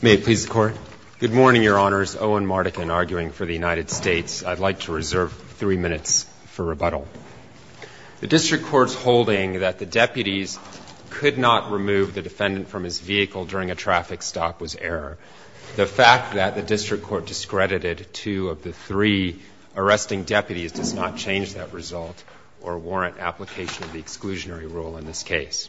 May it please the Court. Good morning, Your Honors. Owen Mardikin, arguing for the United States. I'd like to reserve three minutes for rebuttal. The District Court's holding that the deputies could not remove the defendant from his vehicle during a traffic stop was error. The fact that the District Court discredited two of the three arresting deputies does not change that result or warrant application of the exclusionary rule in this case.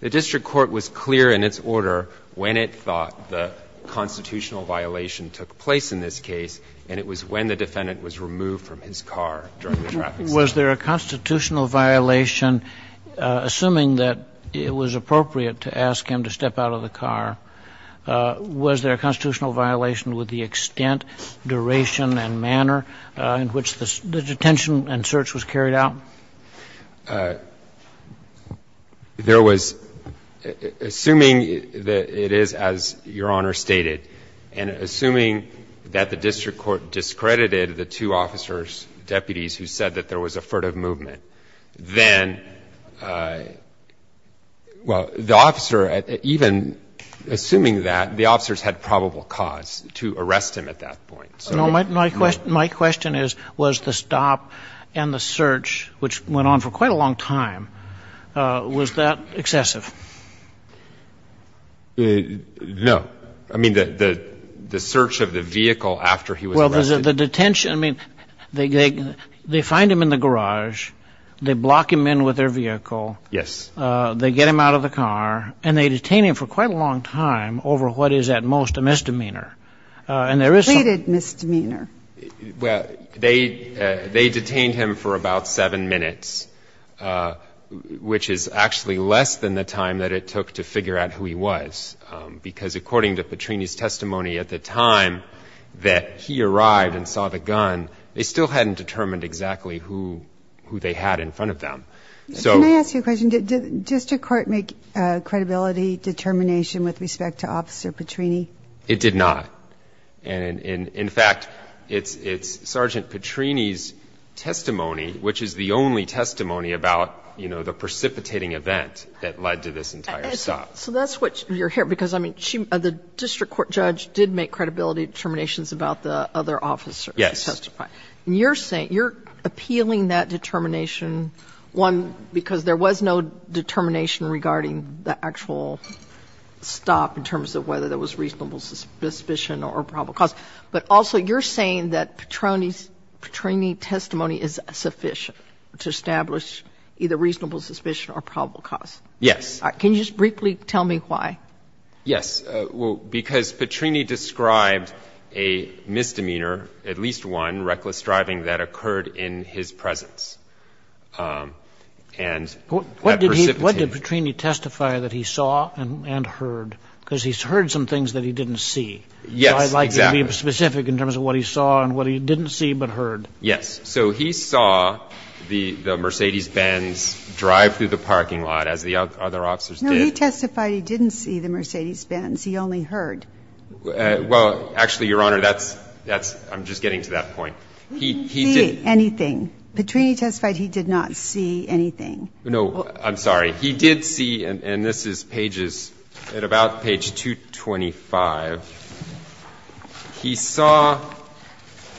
The District Court was clear in its order when it thought the constitutional violation took place in this case, and it was when the defendant was removed from his car during the traffic stop. Was there a constitutional violation, assuming that it was appropriate to ask him to step out of the car? Was there a constitutional violation with the extent, duration and manner in which the detention and search was carried out? There was, assuming that it is as Your Honor stated, and assuming that the District Court discredited the two officers, deputies who said that there was a furtive movement, then, well, the officer, even assuming that, the officers had probable cause to arrest him at that point. My question is, was the stop and the search, which went on for quite a long time, was that excessive? No. I mean, the search of the vehicle after he was arrested. Well, the detention, I mean, they find him in the garage, they block him in with their vehicle. Yes. They get him out of the car, and they detain him for quite a long time over what is at most a misdemeanor. Completed misdemeanor. Well, they detained him for about 7 minutes, which is actually less than the time that it took to figure out who he was, because according to Petrini's testimony, at the time that he arrived and saw the gun, they still hadn't determined exactly who they had in front of them. Can I ask you a question? Did district court make a credibility determination with respect to Officer Petrini? It did not. In fact, it's Sergeant Petrini's testimony, which is the only testimony about, you know, the precipitating event that led to this entire stop. So that's what you're hearing, because, I mean, the district court judge did make credibility determinations about the other officers who testified. Yes. You're appealing that determination, one, because there was no determination regarding the actual stop in terms of whether there was reasonable suspicion or probable cause, but also you're saying that Petrini's testimony is sufficient to establish either reasonable suspicion or probable cause. Yes. Can you just briefly tell me why? Yes. Well, because Petrini described a misdemeanor, at least one, reckless driving that occurred in his presence, and that precipitated. What did Petrini testify that he saw and heard? Because he's heard some things that he didn't see. Yes, exactly. So I'd like you to be specific in terms of what he saw and what he didn't see but heard. Yes. So he saw the Mercedes-Benz drive through the parking lot, as the other officers did. Petrini testified he didn't see the Mercedes-Benz. He only heard. Well, actually, Your Honor, that's – I'm just getting to that point. He didn't see anything. Petrini testified he did not see anything. No. I'm sorry. He did see, and this is pages – at about page 225, he saw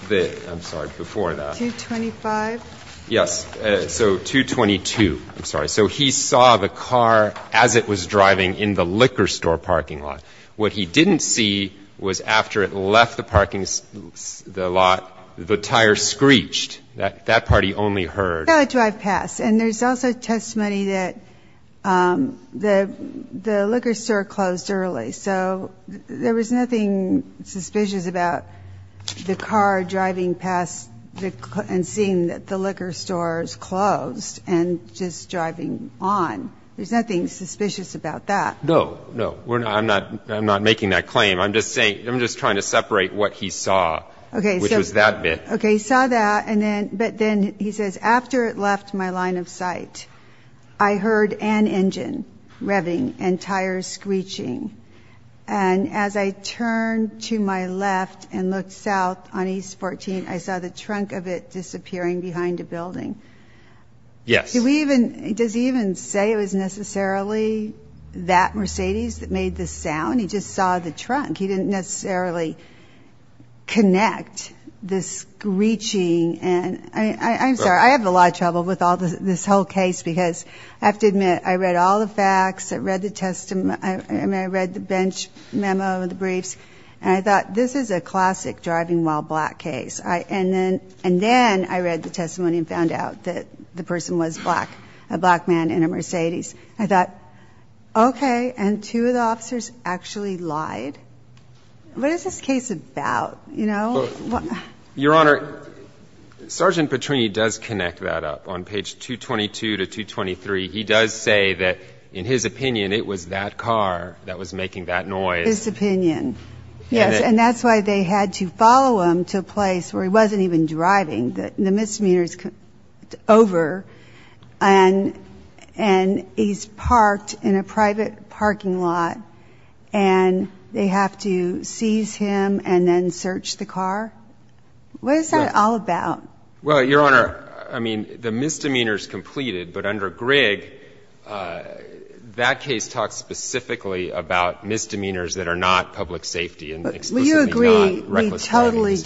the – I'm sorry. Before that. 225? Yes. So 222. I'm sorry. So he saw the car as it was driving in the liquor store parking lot. What he didn't see was after it left the parking – the lot, the tire screeched. That part he only heard. And there's also testimony that the liquor store closed early. So there was nothing suspicious about the car driving past and seeing that the liquor store is closed and just driving on. There's nothing suspicious about that. No. No. I'm not making that claim. I'm just saying – I'm just trying to separate what he saw, which was that bit. Okay. So he saw that, but then he says, After it left my line of sight, I heard an engine revving and tires screeching. And as I turned to my left and looked south on East 14th, I saw the trunk of it disappearing behind a building. Yes. Does he even say it was necessarily that Mercedes that made the sound? He just saw the trunk. He didn't necessarily connect the screeching. I'm sorry. I have a lot of trouble with this whole case because I have to admit, I read all the facts. I read the bench memo, the briefs. And I thought, this is a classic driving while black case. And then I read the testimony and found out that the person was black, a black man in a Mercedes. I thought, okay, and two of the officers actually lied? What is this case about? Your Honor, Sergeant Petrini does connect that up. On page 222 to 223, he does say that, in his opinion, it was that car that was making that noise. His opinion. Yes. And that's why they had to follow him to a place where he wasn't even driving. The misdemeanor is over, and he's parked in a private parking lot, and they have to seize him and then search the car? What is that all about? Well, Your Honor, I mean, the misdemeanor is completed. But under Grigg, that case talks specifically about misdemeanors that are not public safety and explicitly not reckless driving misdemeanors. Well, you agree we totally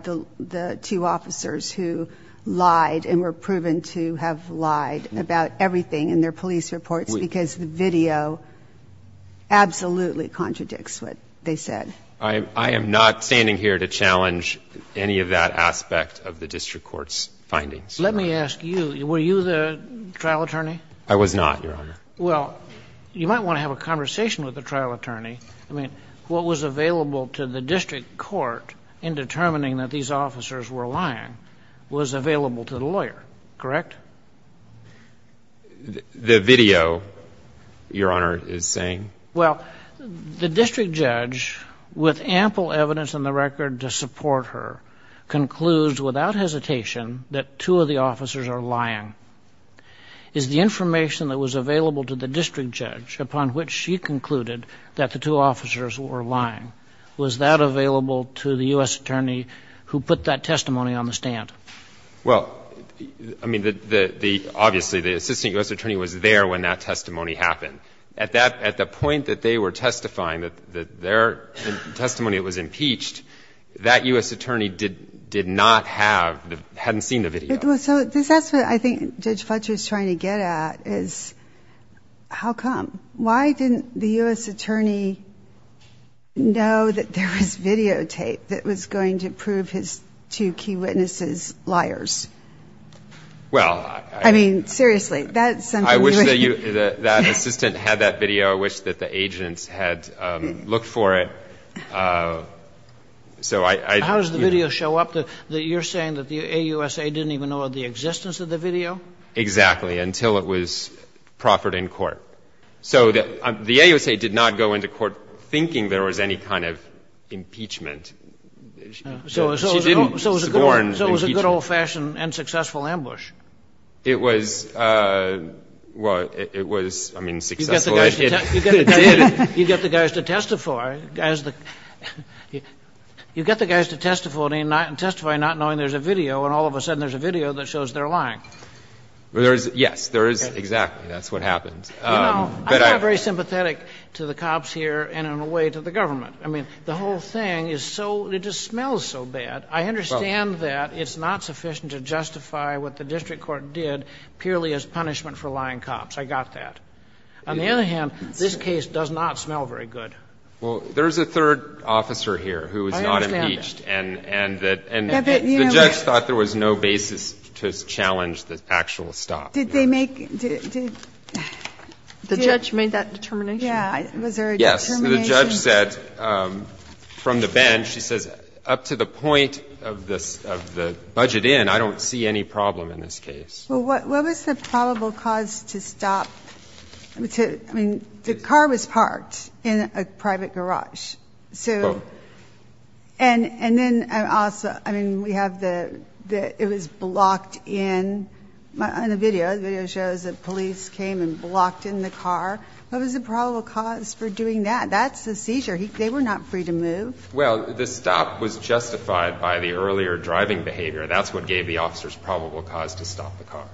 disregard the two officers who lied and were proven to have lied about everything in their police reports because the video absolutely contradicts what they said. I am not standing here to challenge any of that aspect of the district court's findings. Let me ask you, were you the trial attorney? I was not, Your Honor. Well, you might want to have a conversation with the trial attorney. I mean, what was available to the district court in determining that these officers were lying was available to the lawyer, correct? The video, Your Honor, is saying? Well, the district judge, with ample evidence in the record to support her, concludes without hesitation that two of the officers are lying. Is the information that was available to the district judge upon which she concluded that the two officers were lying, was that available to the U.S. attorney who put that testimony on the stand? Well, I mean, obviously the assistant U.S. attorney was there when that testimony happened. At the point that they were testifying, that their testimony was impeached, that U.S. attorney did not have, hadn't seen the video. So that's what I think Judge Fletcher is trying to get at, is how come? Why didn't the U.S. attorney know that there was videotape that was going to prove his two key witnesses liars? Well, I mean, seriously. That's something. I wish that assistant had that video. I wish that the agents had looked for it. How does the video show up? You're saying that the AUSA didn't even know of the existence of the video? Exactly, until it was proffered in court. So the AUSA did not go into court thinking there was any kind of impeachment. She didn't scorn impeachment. So it was a good old-fashioned and successful ambush. It was, well, it was, I mean, successful. It did. You get the guys to testify. You get the guys to testify not knowing there's a video, and all of a sudden there's a video that shows they're lying. Yes, there is. Exactly. That's what happens. You know, I'm not very sympathetic to the cops here and in a way to the government. I mean, the whole thing is so, it just smells so bad. I understand that it's not sufficient to justify what the district court did purely as punishment for lying cops. I got that. On the other hand, this case does not smell very good. Well, there's a third officer here who was not impeached. I understand that. And the judge thought there was no basis to challenge the actual stop. Did they make? The judge made that determination. Yeah. Was there a determination? Yes. The judge said from the bench, she says up to the point of the budget in, I don't see any problem in this case. Well, what was the probable cause to stop? I mean, the car was parked in a private garage. So and then also, I mean, we have the, it was blocked in on the video. The video shows that police came and blocked in the car. What was the probable cause for doing that? That's the seizure. They were not free to move. Well, the stop was justified by the earlier driving behavior. That's what gave the officers probable cause to stop the car.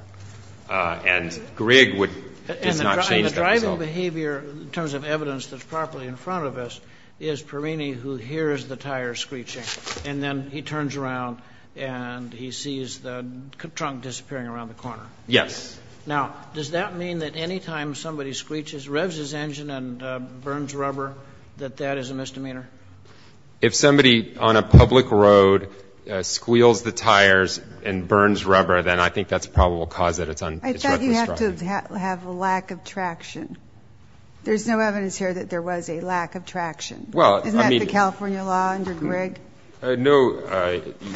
And Grigg would not change that. And the driving behavior in terms of evidence that's properly in front of us is Perini who hears the tires screeching. And then he turns around and he sees the trunk disappearing around the corner. Yes. Now, does that mean that any time somebody screeches, revs his engine and burns rubber, that that is a misdemeanor? If somebody on a public road squeals the tires and burns rubber, then I think that's probable cause that it's reckless driving. I thought you have to have a lack of traction. There's no evidence here that there was a lack of traction. Isn't that the California law under Grigg? No.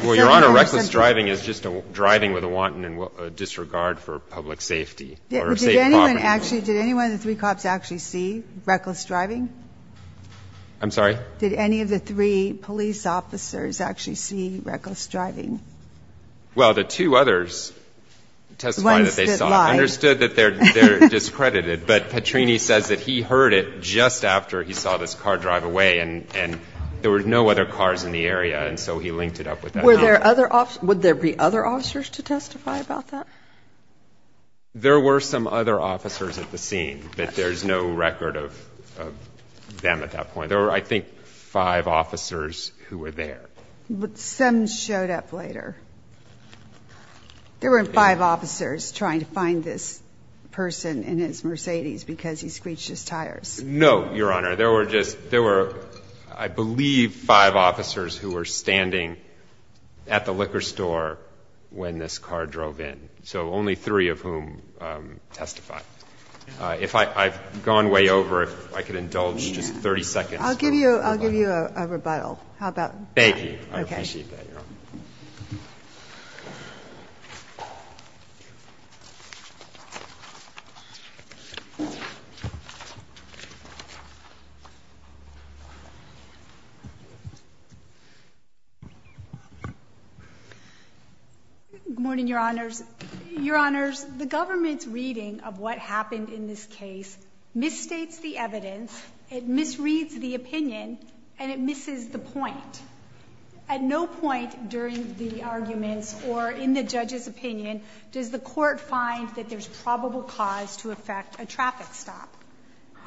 Well, Your Honor, reckless driving is just driving with a wanton disregard for public safety. Did any one of the three cops actually see reckless driving? I'm sorry? Did any of the three police officers actually see reckless driving? Well, the two others testified that they saw. Understood that they're discredited. But Petrini says that he heard it just after he saw this car drive away and there were no other cars in the area. And so he linked it up with that. Were there other officers? Would there be other officers to testify about that? There were some other officers at the scene, but there's no record of them at that point. There were, I think, five officers who were there. But some showed up later. There weren't five officers trying to find this person and his Mercedes because he screeched his tires. No, Your Honor. There were just, there were, I believe, five officers who were standing at the liquor store when this car drove in. So only three of whom testified. If I've gone way over, if I could indulge just 30 seconds. I'll give you a rebuttal. How about? Thank you. I appreciate that, Your Honor. Good morning, Your Honors. Your Honors, the government's reading of what happened in this case misstates the evidence, it misreads the opinion, and it misses the point. At no point during the arguments or in the judge's opinion does the court find that there's probable cause to affect a traffic stop,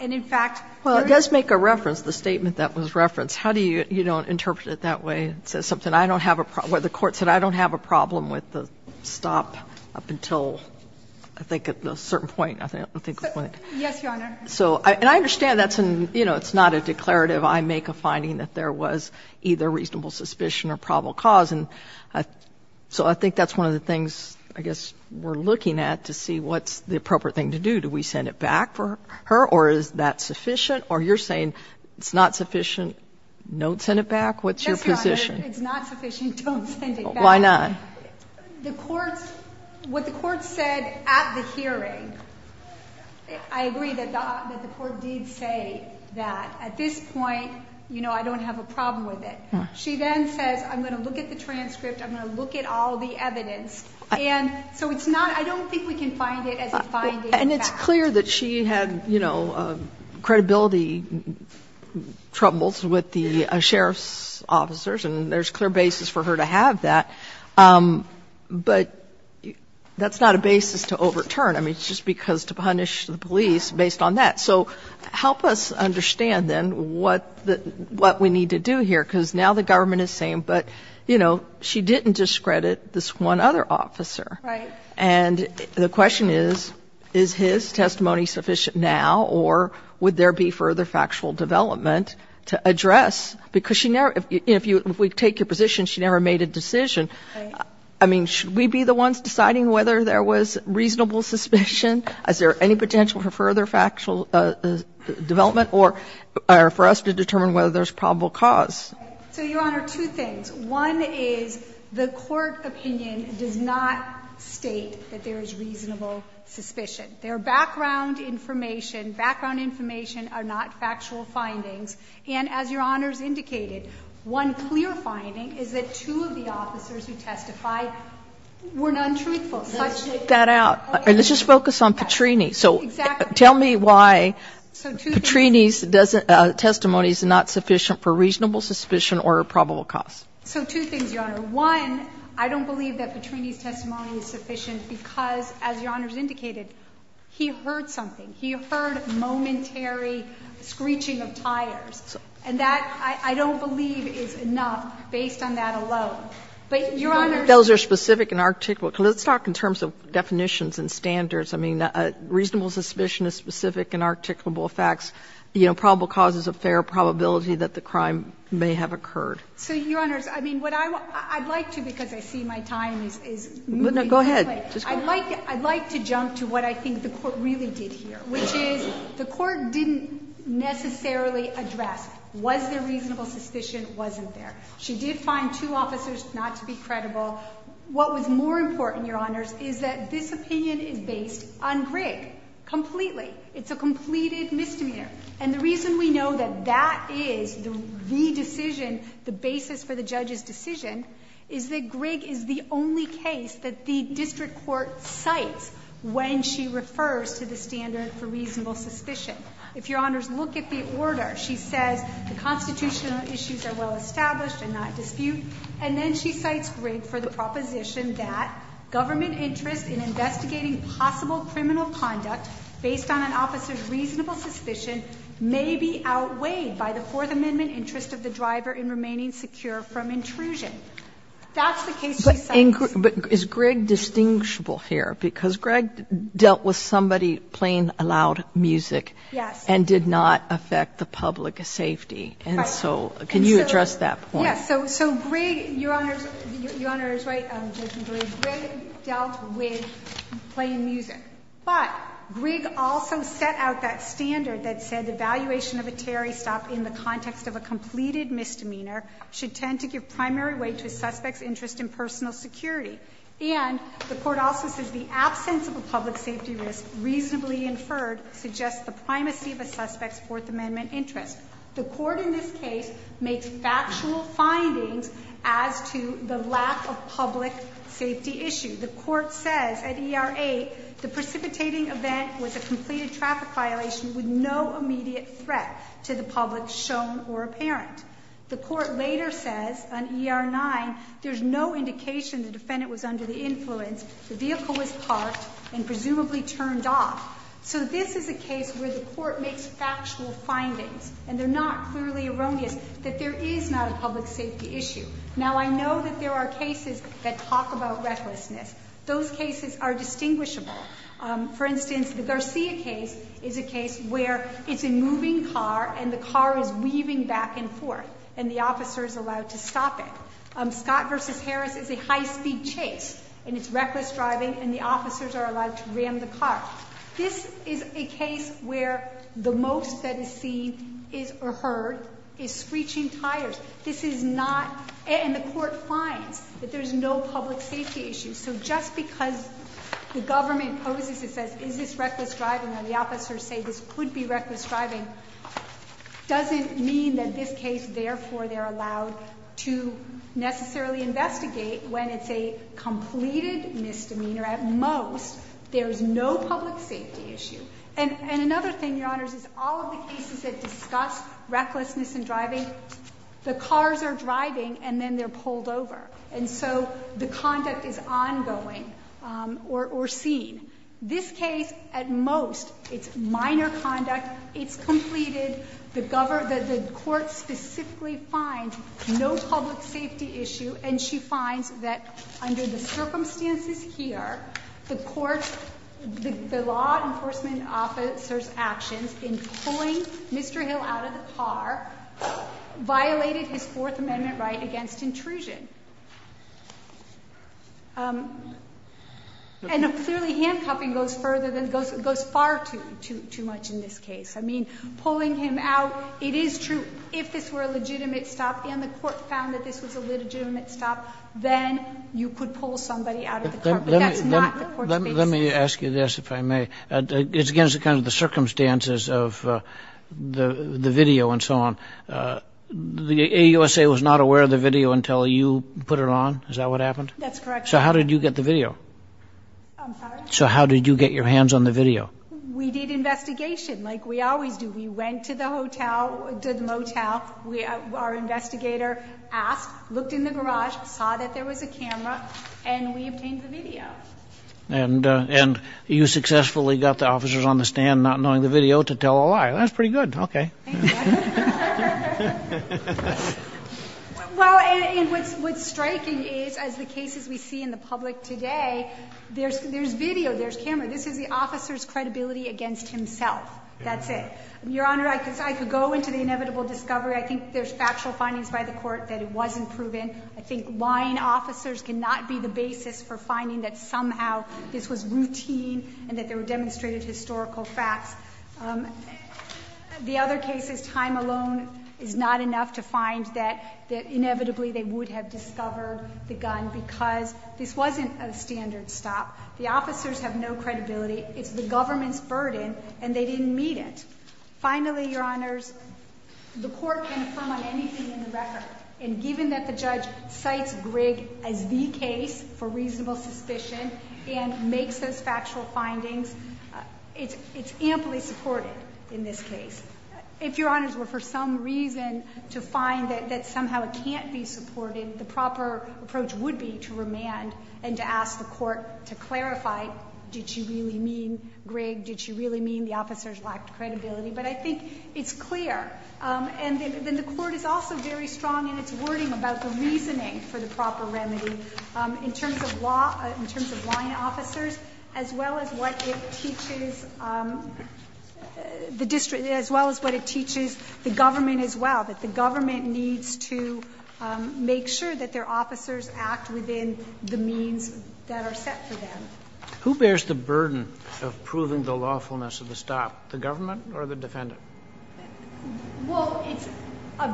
and in fact, there is. Well, it does make a reference, the statement that was referenced. How do you not interpret it that way? It says something. I don't have a problem. The court said I don't have a problem with the stop up until, I think, at a certain point, I think. Yes, Your Honor. And I understand that's an, you know, it's not a declarative. I make a finding that there was either reasonable suspicion or probable cause. And so I think that's one of the things, I guess, we're looking at to see what's the appropriate thing to do. Do we send it back for her, or is that sufficient? Or you're saying it's not sufficient, don't send it back? What's your position? It's not sufficient, don't send it back. Why not? The courts, what the courts said at the hearing, I agree that the court did say that at this point, you know, I don't have a problem with it. She then says, I'm going to look at the transcript, I'm going to look at all the evidence. And so it's not, I don't think we can find it as a finding. And it's clear that she had, you know, credibility troubles with the sheriff's officers, and there's clear basis for her to have that. But that's not a basis to overturn. I mean, it's just because to punish the police based on that. So help us understand then what the, what we need to do here, because now the government is saying, but, you know, she didn't discredit this one other officer. Right. And the question is, is his testimony sufficient now, or would there be further factual development to address? Because she never, if you, if we take your position, she never made a decision. Right. I mean, should we be the ones deciding whether there was reasonable suspicion? Is there any potential for further factual development, or for us to determine whether there's probable cause? So, Your Honor, two things. One is the court opinion does not state that there is reasonable suspicion. Their background information, background information are not factual findings. And as Your Honor's indicated, one clear finding is that two of the officers who testified were non-truthful. Let's shake that out. And let's just focus on Petrini. Exactly. So tell me why Petrini's testimony is not sufficient for reasonable suspicion or probable cause. So two things, Your Honor. One, I don't believe that Petrini's testimony is sufficient because, as Your Honor has indicated, he heard something. He heard momentary screeching of tires. And that, I don't believe, is enough based on that alone. But, Your Honor. Those are specific and articulable. Let's talk in terms of definitions and standards. I mean, reasonable suspicion is specific and articulable facts. You know, probable cause is a fair probability that the crime may have occurred. So, Your Honors, I mean, what I would like to, because I see my time is moving quickly. Go ahead. I would like to jump to what I think the court really did here, which is the court didn't necessarily address was there reasonable suspicion, wasn't there. She did find two officers not to be credible. What was more important, Your Honors, is that this opinion is based on Grigg completely. It's a completed misdemeanor. And the reason we know that that is the decision, the basis for the judge's decision, is that Grigg is the only case that the district court cites when she refers to the standard for reasonable suspicion. If Your Honors look at the order, she says the constitutional issues are well established in that dispute. And then she cites Grigg for the proposition that government interest in investigating possible criminal conduct based on an officer's reasonable suspicion may be outweighed by the Fourth Amendment interest of the driver in remaining secure from intrusion. That's the case she cites. But is Grigg distinguishable here? Because Grigg dealt with somebody playing loud music. Yes. And did not affect the public safety. Right. So can you address that point? Yes. So Grigg, Your Honors, Your Honors, right, Judge McGill, Grigg dealt with playing music. But Grigg also set out that standard that said evaluation of a Terry stop in the context of a completed misdemeanor should tend to give primary weight to a suspect's interest in personal security. And the Court also says the absence of a public safety risk reasonably inferred suggests the primacy of a suspect's Fourth Amendment interest. The Court in this case makes factual findings as to the lack of public safety issue. The Court says at ER 8 the precipitating event was a completed traffic violation with no immediate threat to the public shown or apparent. The Court later says on ER 9 there's no indication the defendant was under the influence, the vehicle was parked, and presumably turned off. So this is a case where the Court makes factual findings. And they're not clearly erroneous that there is not a public safety issue. Now, I know that there are cases that talk about recklessness. Those cases are distinguishable. For instance, the Garcia case is a case where it's a moving car and the car is weaving back and forth and the officer is allowed to stop it. Scott v. Harris is a high-speed chase and it's reckless driving and the officers are allowed to ram the car. This is a case where the most that is seen or heard is screeching tires. This is not, and the Court finds that there's no public safety issue. So just because the government opposes and says is this reckless driving and the officers say this could be reckless driving doesn't mean that this case, therefore they're allowed to necessarily investigate when it's a completed misdemeanor. At most, there's no public safety issue. And another thing, Your Honors, is all of the cases that discuss recklessness and driving, the cars are driving and then they're pulled over. And so the conduct is ongoing or seen. This case, at most, it's minor conduct. It's completed. The Court specifically finds no public safety issue. And she finds that under the circumstances here, the Court, the law enforcement officer's actions in pulling Mr. Hill out of the car violated his Fourth Amendment right against intrusion. And clearly handcuffing goes far too much in this case. I mean, pulling him out, it is true if this were a legitimate stop and the Court found that this was a legitimate stop, then you could pull somebody out of the car. But that's not the Court's basis. Let me ask you this, if I may. It's against the circumstances of the video and so on. The AUSA was not aware of the video until you put it on. Is that what happened? That's correct. So how did you get the video? I'm sorry? So how did you get your hands on the video? We did investigation like we always do. We went to the motel. Our investigator asked, looked in the garage, saw that there was a camera, and we obtained the video. And you successfully got the officers on the stand not knowing the video to tell a lie. That's pretty good. Okay. Well, and what's striking is as the cases we see in the public today, there's video, there's camera. This is the officer's credibility against himself. That's it. Your Honor, I could go into the inevitable discovery. I think there's factual findings by the Court that it wasn't proven. I think lying officers cannot be the basis for finding that somehow this was routine and that there were demonstrated historical facts. The other case is time alone is not enough to find that inevitably they would have discovered the gun because this wasn't a standard stop. The officers have no credibility. It's the government's burden, and they didn't meet it. Finally, Your Honors, the Court can affirm on anything in the record. And given that the judge cites Grigg as the case for reasonable suspicion and makes those factual findings, it's amply supported in this case. If Your Honors were for some reason to find that somehow it can't be supported, the proper approach would be to remand and to ask the Court to clarify, did you really mean Grigg? Did you really mean the officers lacked credibility? But I think it's clear. And the Court is also very strong in its wording about the reasoning for the proper remedy in terms of law, in terms of lying officers, as well as what it teaches the district, as well as what it teaches the government as well, that the government needs to make sure that their officers act within the means that are set for them. Who bears the burden of proving the lawfulness of the stop, the government or the defendant? Well, it's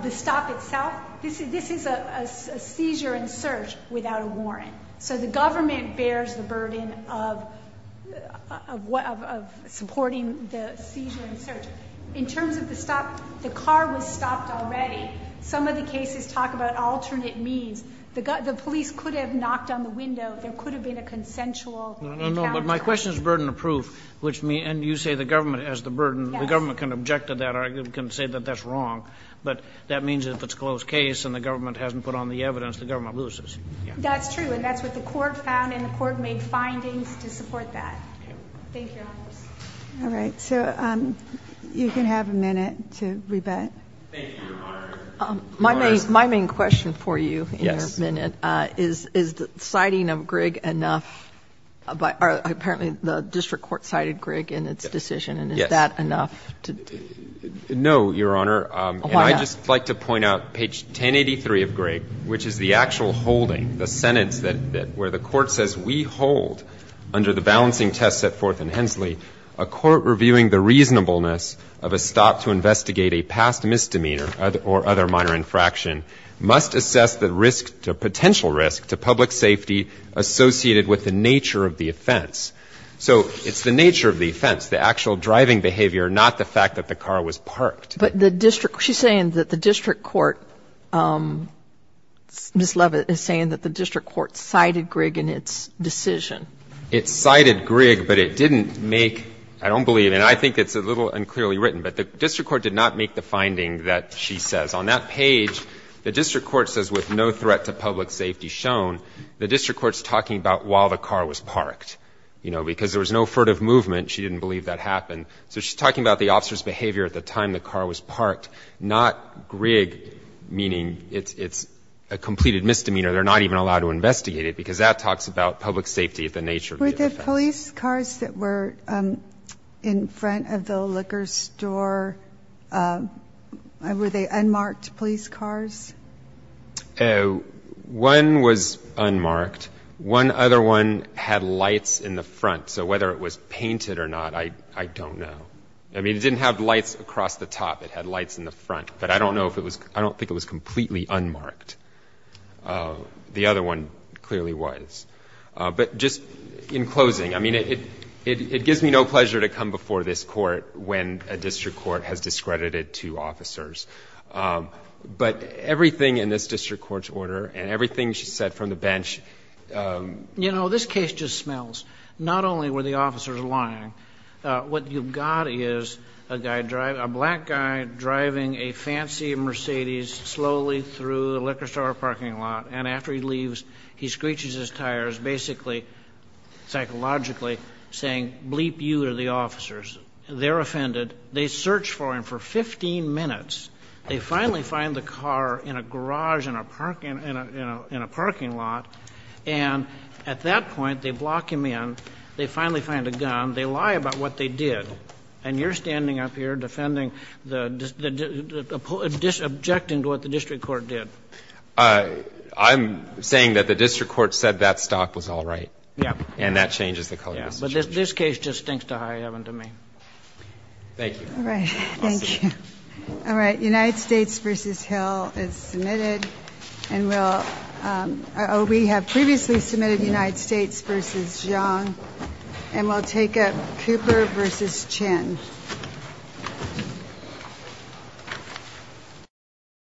the stop itself. This is a seizure and search without a warrant. So the government bears the burden of supporting the seizure and search. In terms of the stop, the car was stopped already. Some of the cases talk about alternate means. The police could have knocked on the window. There could have been a consensual encounter. No, no, no. But my question is burden of proof. And you say the government has the burden. The government can object to that or can say that that's wrong. But that means if it's a closed case and the government hasn't put on the evidence, the government loses. That's true. And that's what the Court found, and the Court made findings to support that. Thank you, Your Honors. All right. So you can have a minute to rebut. Thank you, Your Honor. My main question for you in your minute is, is the citing of Grigg enough? Apparently the district court cited Grigg in its decision. Yes. And is that enough? No, Your Honor. Why not? And I'd just like to point out page 1083 of Grigg, which is the actual holding, the sentence where the Court says, We hold under the balancing test set forth in Hensley a court reviewing the reasonableness of a stop to investigate a past misdemeanor or other minor infraction must assess the potential risk to public safety associated with the nature of the offense. So it's the nature of the offense, the actual driving behavior, not the fact that the car was parked. But the district court, she's saying that the district court, Ms. Leavitt, is saying that the district court cited Grigg in its decision. It cited Grigg, but it didn't make, I don't believe, and I think it's a little unclearly written, but the district court did not make the finding that she says. On that page, the district court says, With no threat to public safety shown, the district court's talking about while the car was parked, you know, because there was no furtive movement. She didn't believe that happened. So she's talking about the officer's behavior at the time the car was parked, not Grigg, meaning it's a completed misdemeanor. They're not even allowed to investigate it because that talks about public safety of the nature of the offense. The police cars that were in front of the liquor store, were they unmarked police cars? One was unmarked. One other one had lights in the front. So whether it was painted or not, I don't know. I mean, it didn't have lights across the top. It had lights in the front. But I don't know if it was, I don't think it was completely unmarked. The other one clearly was. But just in closing, I mean, it gives me no pleasure to come before this Court when a district court has discredited two officers. But everything in this district court's order and everything she said from the bench ---- You know, this case just smells not only were the officers lying. What you've got is a guy driving, a black guy driving a fancy Mercedes slowly through the liquor store parking lot. And after he leaves, he screeches his tires basically psychologically saying, bleep you to the officers. They're offended. They search for him for 15 minutes. They finally find the car in a garage in a parking lot. And at that point, they block him in. They finally find a gun. They lie about what they did. And you're standing up here defending the ---- objecting to what the district court did. I'm saying that the district court said that stock was all right. Yeah. And that changes the color of the situation. Yeah. But this case just stinks to high heaven to me. Thank you. All right. Thank you. All right. United States v. Hill is submitted. And we'll ---- oh, we have previously submitted United States v. Zhang. And we'll take Cooper v. Chin.